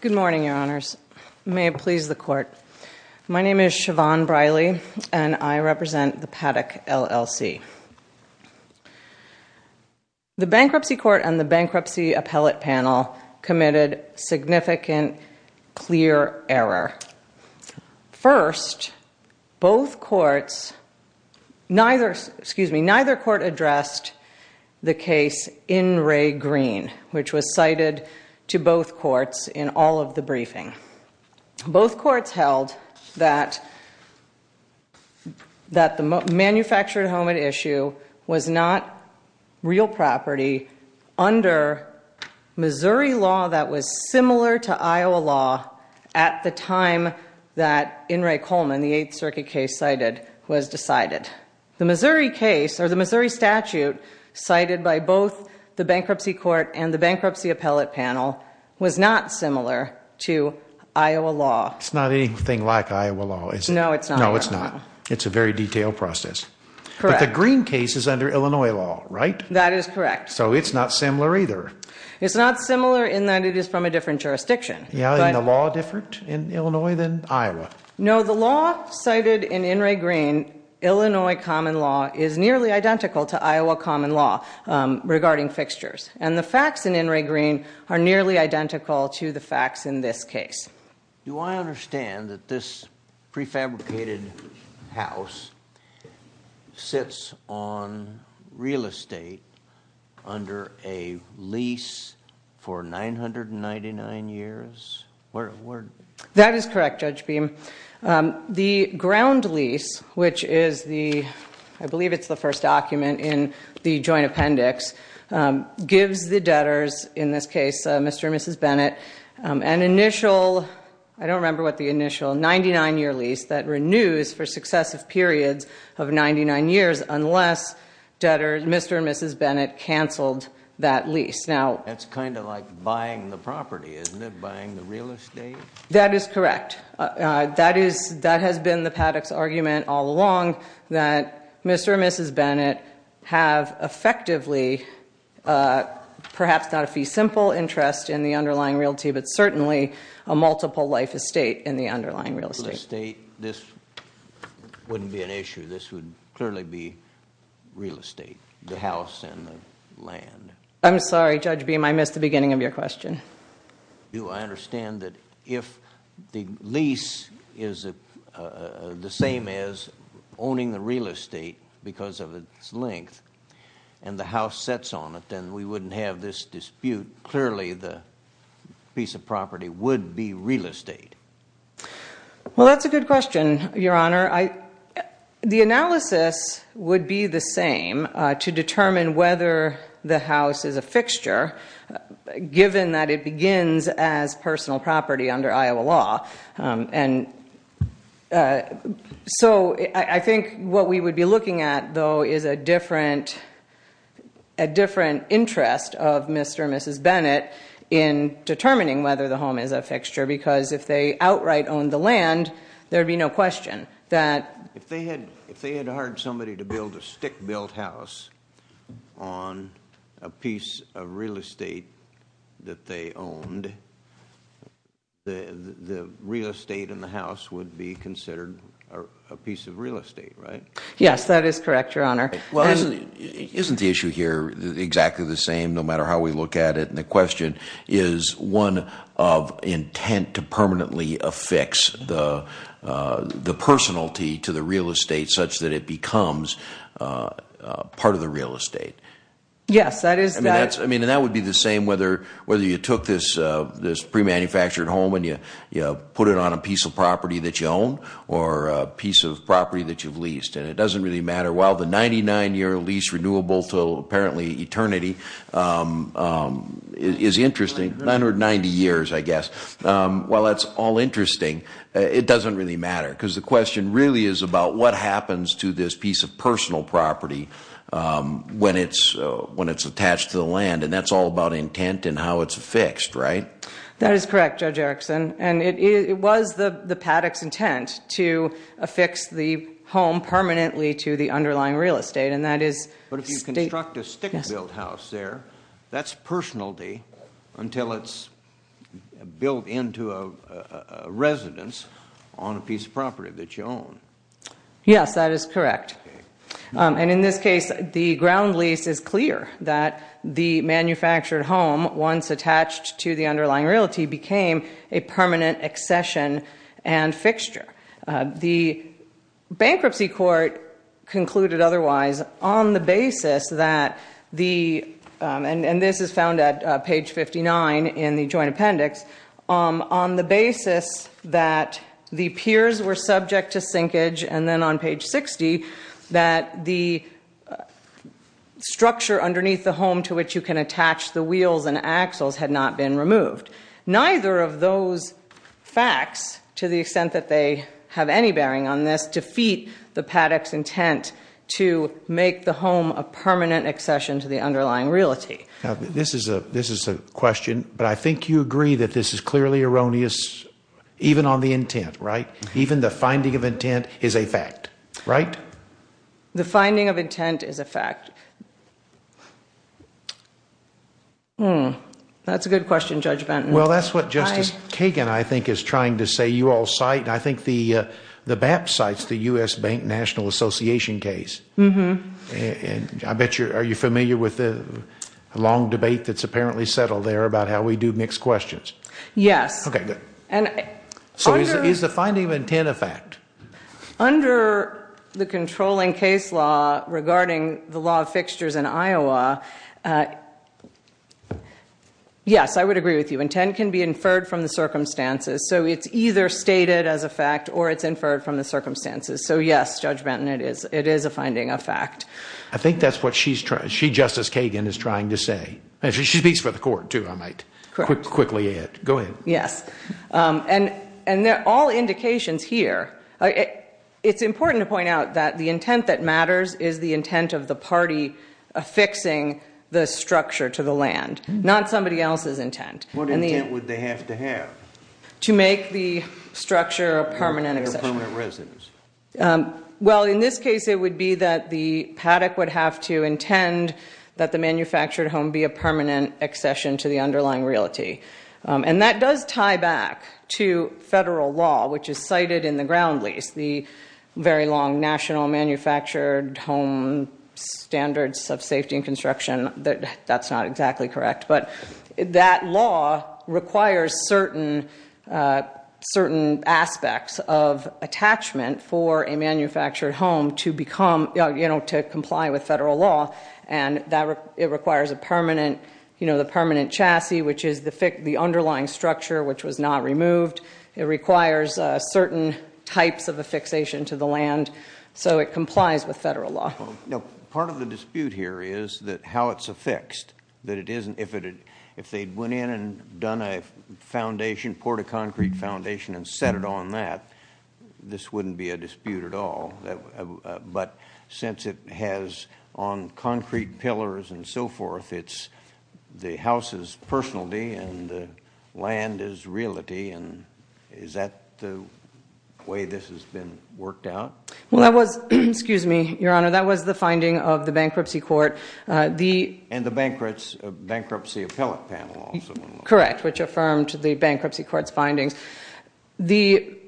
Good morning, Your Honors. May it please the Court. My name is Siobhan Briley, and I represent the Paddock, LLC. The Bankruptcy Court and the Bankruptcy Appellate Panel committed significant clear error. First, both courts, neither, excuse me, neither court addressed the case in Ray Green, which was cited to both courts in all of the briefing. Both courts held that the manufactured helmet issue was not real property under Missouri law that was similar to Iowa law at the time that, in Ray Coleman, the Eighth Circuit case cited was decided. The Missouri case, or the Missouri statute cited by both the Bankruptcy Court and the It's not anything like Iowa law, is it? No, it's not. No, it's not. It's a very detailed process. Correct. But the Green case is under Illinois law, right? That is correct. So it's not similar either. It's not similar in that it is from a different jurisdiction. Yeah, and the law different in Illinois than Iowa? No, the law cited in Ray Green, Illinois common law, is nearly identical to Iowa common law regarding fixtures. And the facts in Ray Green are nearly identical to the facts in this case. Do I understand that this prefabricated house sits on real estate under a lease for 999 years? That is correct, Judge Beam. The ground lease, which is the, I believe it's the first document in the joint appendix, gives the debtors, in this case Mr. and Mrs. Bennett, an initial, I don't remember what the initial, 99-year lease that renews for successive periods of 99 years unless Mr. and Mrs. Bennett canceled that lease. That's kind of like buying the property, isn't it? Buying the real estate? That is correct. That has been the Paddock's argument all along that Mr. and Mrs. Bennett have effectively, perhaps not a fee simple interest in the underlying realty, but certainly a multiple life estate in the underlying real estate. Real estate, this wouldn't be an issue. This would clearly be real estate, the house and the land. I'm sorry, Judge Beam. I missed the beginning of your question. I understand that if the lease is the same as owning the real estate because of its length and the house sets on it, then we wouldn't have this dispute. Clearly, the piece of property would be real estate. Well, that's a good question, Your Honor. The analysis would be the same to determine whether the house is a fixture given that it begins as personal property under Iowa law. I think what we would be looking at, though, is a different interest of Mr. and Mrs. Bennett in determining whether the home is a fixture because if they outright owned the land, there would be no question that if they had hired somebody to build a stick-built house on a piece of real estate that they owned, the real estate and the house would be considered a piece of real estate, right? Yes, that is correct, Your Honor. Well, isn't the issue here exactly the same no matter how we look at it? The question is one of intent to permanently affix the personality to the real estate such that it becomes part of the real estate. Yes, that is that. That would be the same whether you took this pre-manufactured home and you put it on a piece of property that you own or a piece of property that you've leased. It doesn't really matter. While the 99-year lease renewable to apparently eternity is interesting, 990 years, I guess, while that's all interesting, it doesn't really matter because the question really is about what happens to this piece of personal property when it's attached to the land, and that's all about intent and how it's affixed, right? That is correct, Judge Erickson. It was the paddock's intent to affix the home permanently to the underlying real estate, and that is state. But if you construct a stick-built house there, that's personality until it's built into a residence on a piece of property that you own. Yes, that is correct. In this case, the ground lease is clear that the manufactured home, once attached to the underlying realty, became a permanent accession and fixture. The bankruptcy court concluded otherwise on the basis that the, and this is found at page 59 in the joint appendix, on the basis that the piers were subject to sinkage, and then on page 60, that the structure underneath the home to which you can attach the wheels and axles had not been removed. Neither of those facts, to the extent that they have any bearing on this, defeat the paddock's intent to make the home a permanent accession to the underlying realty. This is a question, but I think you agree that this is clearly erroneous even on the intent, right? The finding of intent is a fact. That's a good question, Judge Banton. Well, that's what Justice Kagan, I think, is trying to say. You all cite, and I think the BAP cites the U.S. Bank National Association case. I bet you're familiar with the long debate that's apparently settled there about how we do mixed questions. Yes. So is the finding of intent a fact? Under the controlling case law regarding the law of fixtures in Iowa, yes, I would agree with you. Intent can be inferred from the circumstances. So it's either stated as a fact or it's inferred from the circumstances. So, yes, Judge Banton, it is a finding of fact. I think that's what she, Justice Kagan, is trying to say. She speaks for the court, too, I might quickly add. Correct. Go ahead. Yes. And they're all indications here. It's important to point out that the intent that matters is the intent of the party affixing the structure to the land, not somebody else's intent. What intent would they have to have? To make the structure a permanent accession. They're permanent residents. Well, in this case, it would be that the paddock would have to intend that the manufactured home be a permanent accession to the underlying realty. And that does tie back to federal law, which is cited in the ground lease, the very long National Manufactured Home Standards of Safety and Construction. That's not exactly correct. But that law requires certain aspects of attachment for a manufactured home to comply with federal law. It requires the permanent chassis, which is the underlying structure which was not removed. It requires certain types of affixation to the land so it complies with federal law. Part of the dispute here is how it's affixed. If they'd went in and done a foundation, poured a concrete foundation and set it on that, this wouldn't be a dispute at all. But since it has on concrete pillars and so forth, it's the house's personality and the land is realty. Is that the way this has been worked out? Well, that was the finding of the bankruptcy court. And the bankruptcy appellate panel also. The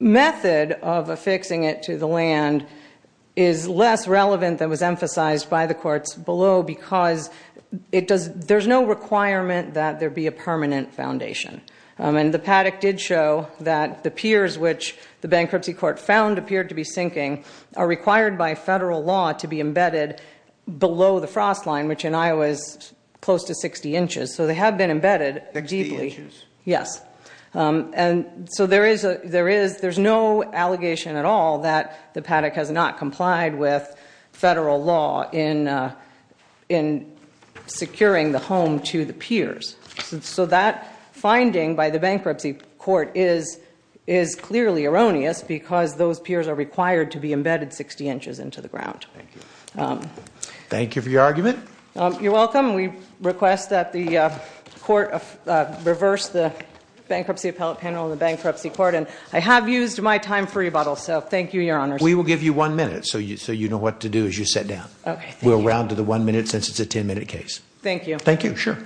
method of affixing it to the land is less relevant than was emphasized by the courts below because there's no requirement that there be a permanent foundation. And the paddock did show that the piers which the bankruptcy court found appeared to be sinking are required by federal law to be embedded below the frost line, which in Iowa is close to 60 inches. So they have been embedded deeply. Yes. And so there is no allegation at all that the paddock has not complied with federal law in securing the home to the piers. So that finding by the bankruptcy court is clearly erroneous because those piers are required to be embedded 60 inches into the ground. Thank you. You're welcome. We request that the court reverse the bankruptcy appellate panel and the bankruptcy court. And I have used my time for rebuttal. So thank you, Your Honor. We will give you one minute so you know what to do as you sit down. Okay. We'll round to the one minute since it's a 10 minute case. Thank you. Thank you. Sure.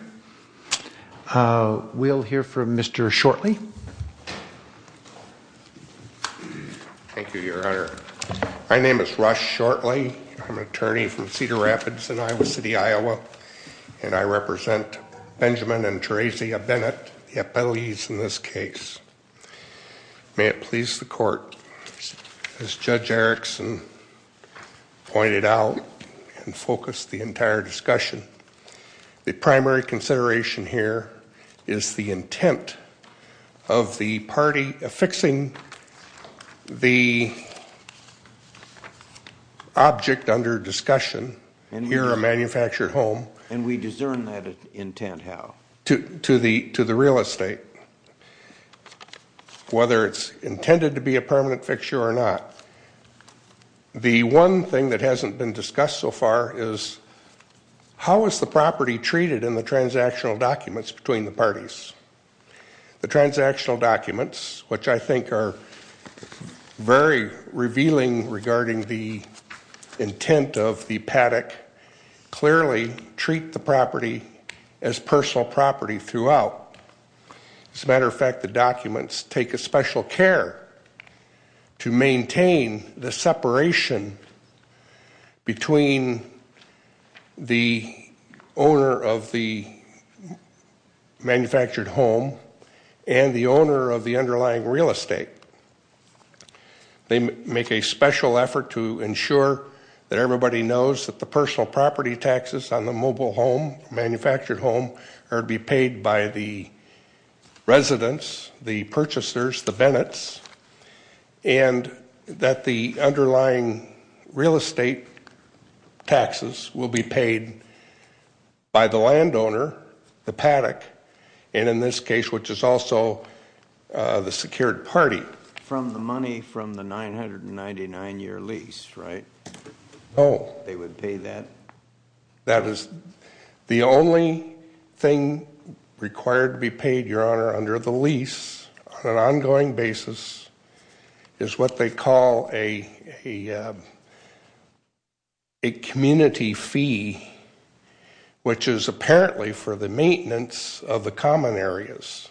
We'll hear from Mr. Shortley. Thank you, Your Honor. My name is Rush Shortley. I'm an attorney from Cedar Rapids in Iowa City, Iowa. And I represent Benjamin and Theresia Bennett, the appellees in this case. May it please the court. As Judge Erickson pointed out and focused the entire discussion, the primary consideration here is the intent of the party affixing the object under discussion, here a manufactured home. And we discern that intent how? To the real estate, whether it's intended to be a permanent fixture or not. The one thing that hasn't been discussed so far is how is the property treated in the transactional documents between the parties? The transactional documents, which I think are very revealing regarding the intent of the paddock, clearly treat the property as personal property throughout. As a matter of fact, the documents take a special care to maintain the separation between the owner of the manufactured home and the owner of the underlying real estate. They make a special effort to ensure that everybody knows that the personal property taxes on the mobile home, manufactured home, are to be paid by the residents, the purchasers, the Bennett's, and that the underlying real estate taxes will be paid by the landowner, the paddock. And in this case, which is also the secured party. From the money from the 999-year lease, right? Oh. They would pay that? That is the only thing required to be paid, Your Honor, under the lease on an ongoing basis is what they call a community fee, which is apparently for the maintenance of the common areas.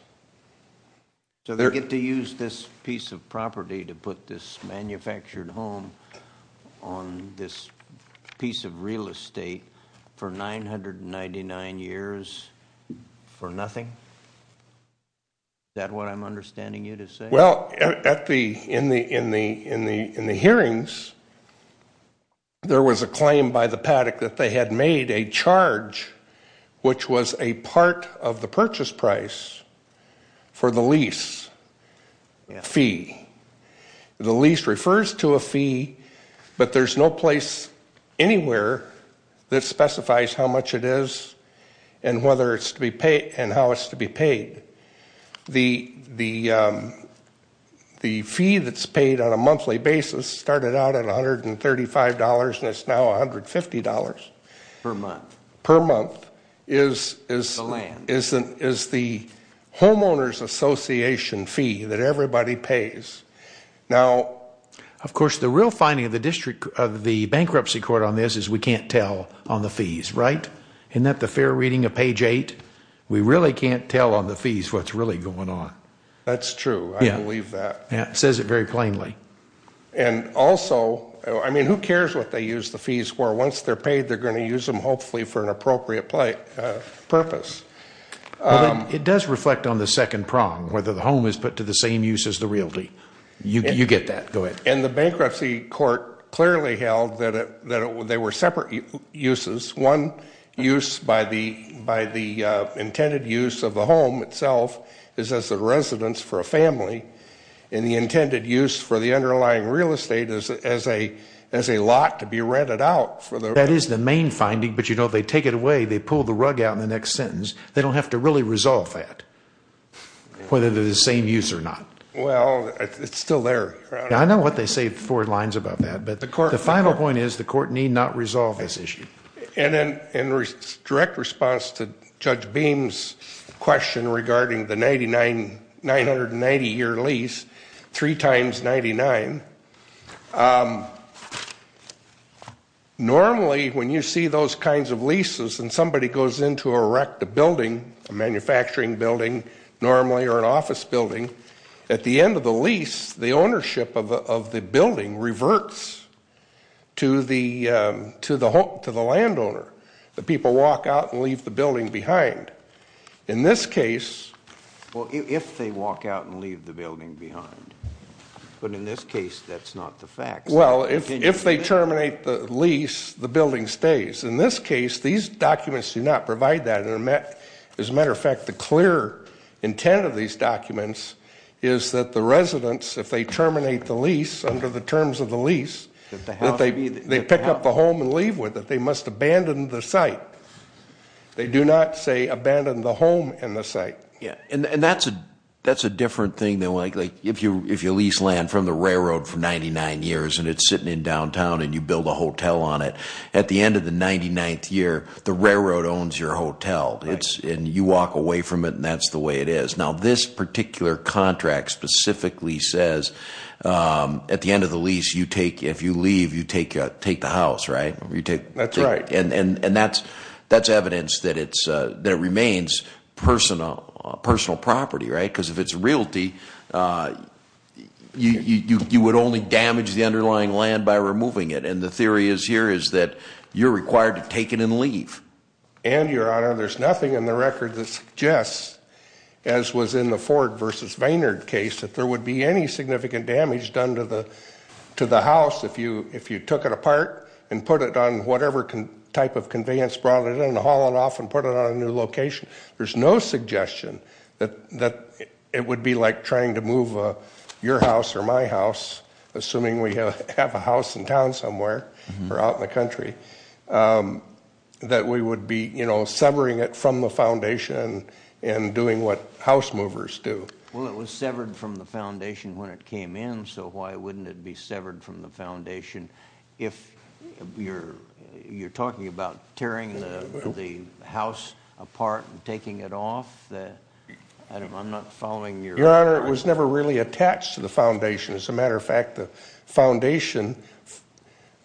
So they get to use this piece of property to put this manufactured home on this piece of real estate for 999 years for nothing? Is that what I'm understanding you to say? Well, in the hearings, there was a claim by the paddock that they had made a charge, which was a part of the purchase price for the lease fee. The lease refers to a fee, but there's no place anywhere that specifies how much it is and how it's to be paid. The fee that's paid on a monthly basis started out at $135, and it's now $150. Per month. Per month is the homeowners association fee that everybody pays. Now, of course, the real finding of the bankruptcy court on this is we can't tell on the fees, right? Isn't that the fair reading of page 8? We really can't tell on the fees what's really going on. That's true. I believe that. It says it very plainly. And also, I mean, who cares what they use the fees for? Once they're paid, they're going to use them, hopefully, for an appropriate purpose. It does reflect on the second prong, whether the home is put to the same use as the realty. You get that. Go ahead. And the bankruptcy court clearly held that they were separate uses. One use by the intended use of the home itself is as a residence for a family, and the intended use for the underlying real estate is as a lot to be rented out. That is the main finding, but, you know, they take it away, they pull the rug out in the next sentence. They don't have to really resolve that, whether they're the same use or not. Well, it's still there. I know what they say four lines about that, but the final point is the court need not resolve this issue. And in direct response to Judge Beam's question regarding the 990-year lease, three times 99, normally when you see those kinds of leases and somebody goes in to erect a building, a manufacturing building normally or an office building, at the end of the lease the ownership of the building reverts to the landowner. The people walk out and leave the building behind. In this case. Well, if they walk out and leave the building behind, but in this case that's not the fact. Well, if they terminate the lease, the building stays. In this case, these documents do not provide that. As a matter of fact, the clear intent of these documents is that the residents, if they terminate the lease under the terms of the lease, that they pick up the home and leave with it. They must abandon the site. They do not, say, abandon the home and the site. And that's a different thing than, like, if you lease land from the railroad for 99 years and it's sitting in downtown and you build a hotel on it, at the end of the 99th year, the railroad owns your hotel. And you walk away from it and that's the way it is. Now, this particular contract specifically says, at the end of the lease, if you leave, you take the house, right? That's right. And that's evidence that it remains personal property, right? Because if it's realty, you would only damage the underlying land by removing it. And the theory here is that you're required to take it and leave. And, Your Honor, there's nothing in the record that suggests, as was in the Ford v. Vaynard case, that there would be any significant damage done to the house if you took it apart and put it on whatever type of conveyance, brought it in, hauled it off, and put it on a new location. There's no suggestion that it would be like trying to move your house or my house, assuming we have a house in town somewhere or out in the country, that we would be severing it from the foundation and doing what house movers do. Well, it was severed from the foundation when it came in, so why wouldn't it be severed from the foundation? If you're talking about tearing the house apart and taking it off, I'm not following your argument. Your Honor, it was never really attached to the foundation. As a matter of fact, the foundation,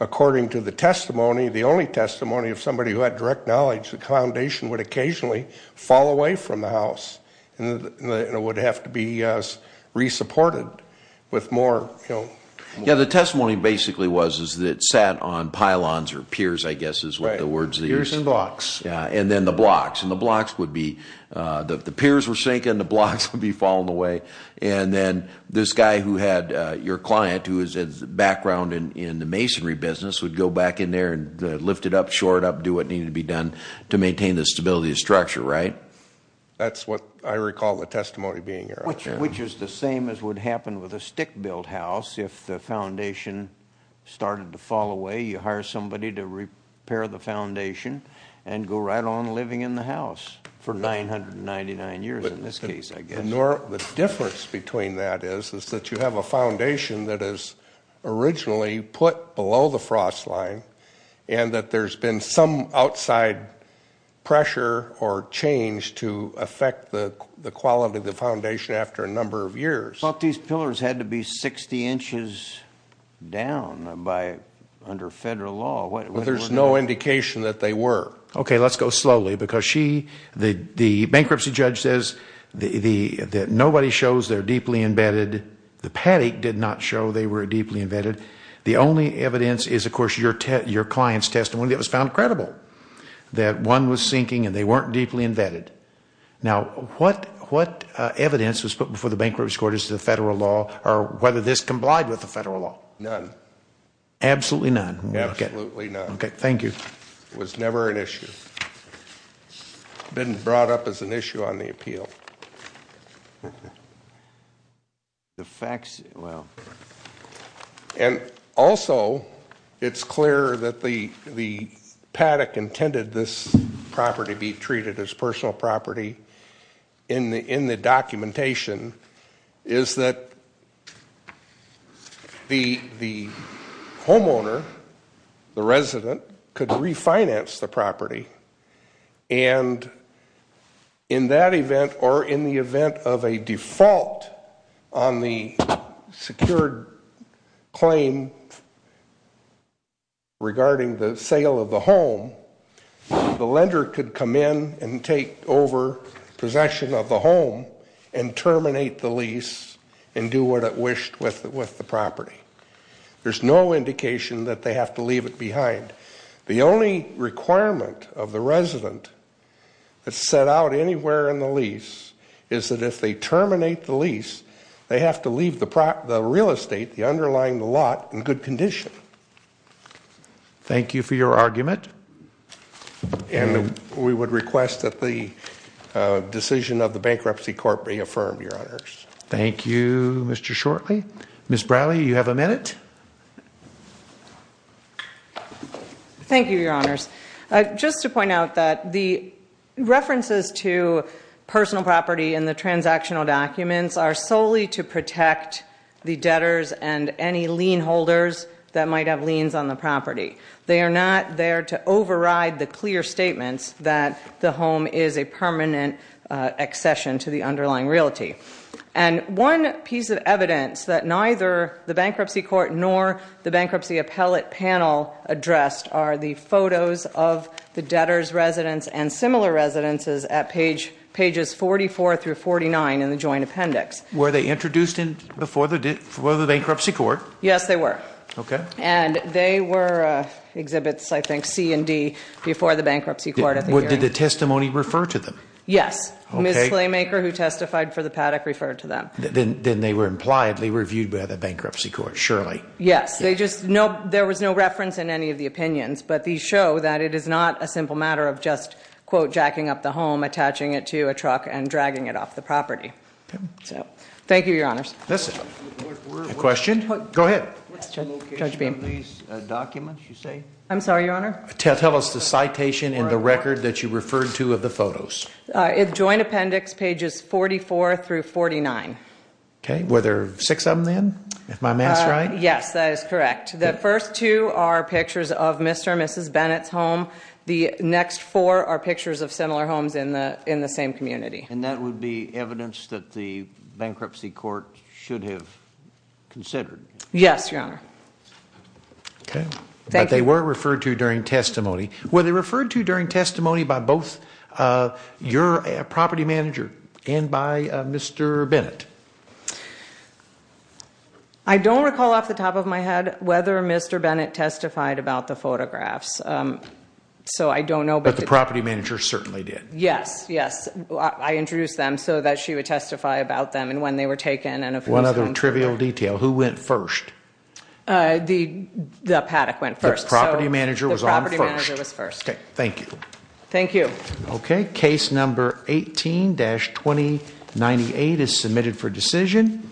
according to the testimony, the only testimony of somebody who had direct knowledge, the foundation would occasionally fall away from the house and it would have to be resupported with more, you know. Yeah, the testimony basically was that it sat on pylons or piers, I guess is what the word is. Piers and blocks. Yeah, and then the blocks. The piers were sinking, the blocks would be falling away, and then this guy who had your client who has a background in the masonry business would go back in there and lift it up, shore it up, do what needed to be done to maintain the stability of the structure, right? That's what I recall the testimony being, Your Honor. Which is the same as would happen with a stick-built house. If the foundation started to fall away, you hire somebody to repair the foundation and go right on living in the house for 999 years in this case, I guess. The difference between that is that you have a foundation that is originally put below the frost line and that there's been some outside pressure or change to affect the quality of the foundation after a number of years. But these pillars had to be 60 inches down under federal law. Well, there's no indication that they were. Okay, let's go slowly because the bankruptcy judge says that nobody shows they're deeply embedded. The paddock did not show they were deeply embedded. The only evidence is, of course, your client's testimony that was found credible that one was sinking and they weren't deeply embedded. Now, what evidence was put before the bankruptcy court as to the federal law or whether this complied with the federal law? None. Absolutely none? Absolutely none. Okay, thank you. It was never an issue. It's been brought up as an issue on the appeal. And also, it's clear that the paddock intended this property be treated as personal property. in the documentation is that the homeowner, the resident, could refinance the property. And in that event or in the event of a default on the secured claim regarding the sale of the home, the lender could come in and take over possession of the home and terminate the lease and do what it wished with the property. There's no indication that they have to leave it behind. The only requirement of the resident that's set out anywhere in the lease is that if they terminate the lease, they have to leave the real estate, the underlying lot, in good condition. Thank you for your argument. And we would request that the decision of the bankruptcy court be affirmed, Your Honors. Thank you, Mr. Shortley. Ms. Bradley, you have a minute. Thank you, Your Honors. Just to point out that the references to personal property in the transactional documents are solely to protect the debtors and any lien holders that might have liens on the property. They are not there to override the clear statements that the home is a permanent accession to the underlying realty. And one piece of evidence that neither the bankruptcy court nor the bankruptcy appellate panel addressed are the photos of the debtor's residence and similar residences at pages 44 through 49 in the joint appendix. Were they introduced before the bankruptcy court? Yes, they were. Okay. And they were exhibits, I think, C and D, before the bankruptcy court at the hearing. Did the testimony refer to them? Yes. Ms. Claymaker, who testified for the Paddock, referred to them. Then they were impliedly reviewed by the bankruptcy court, surely. Yes. There was no reference in any of the opinions, but these show that it is not a simple matter of just, quote, Thank you, Your Honors. A question? Go ahead. Judge Beam. I'm sorry, Your Honor? Tell us the citation in the record that you referred to of the photos. In the joint appendix, pages 44 through 49. Okay. Were there six of them then, if my math is right? Yes, that is correct. The first two are pictures of Mr. and Mrs. Bennett's home. The next four are pictures of similar homes in the same community. And that would be evidence that the bankruptcy court should have considered? Yes, Your Honor. Okay. Thank you. But they were referred to during testimony. Were they referred to during testimony by both your property manager and by Mr. Bennett? I don't recall off the top of my head whether Mr. Bennett testified about the photographs. So I don't know. But the property manager certainly did. Yes, yes. I introduced them so that she would testify about them and when they were taken. One other trivial detail. Who went first? The paddock went first. The property manager was on first. The property manager was first. Okay. Thank you. Thank you. Okay. Case number 18-2098 is submitted for decision.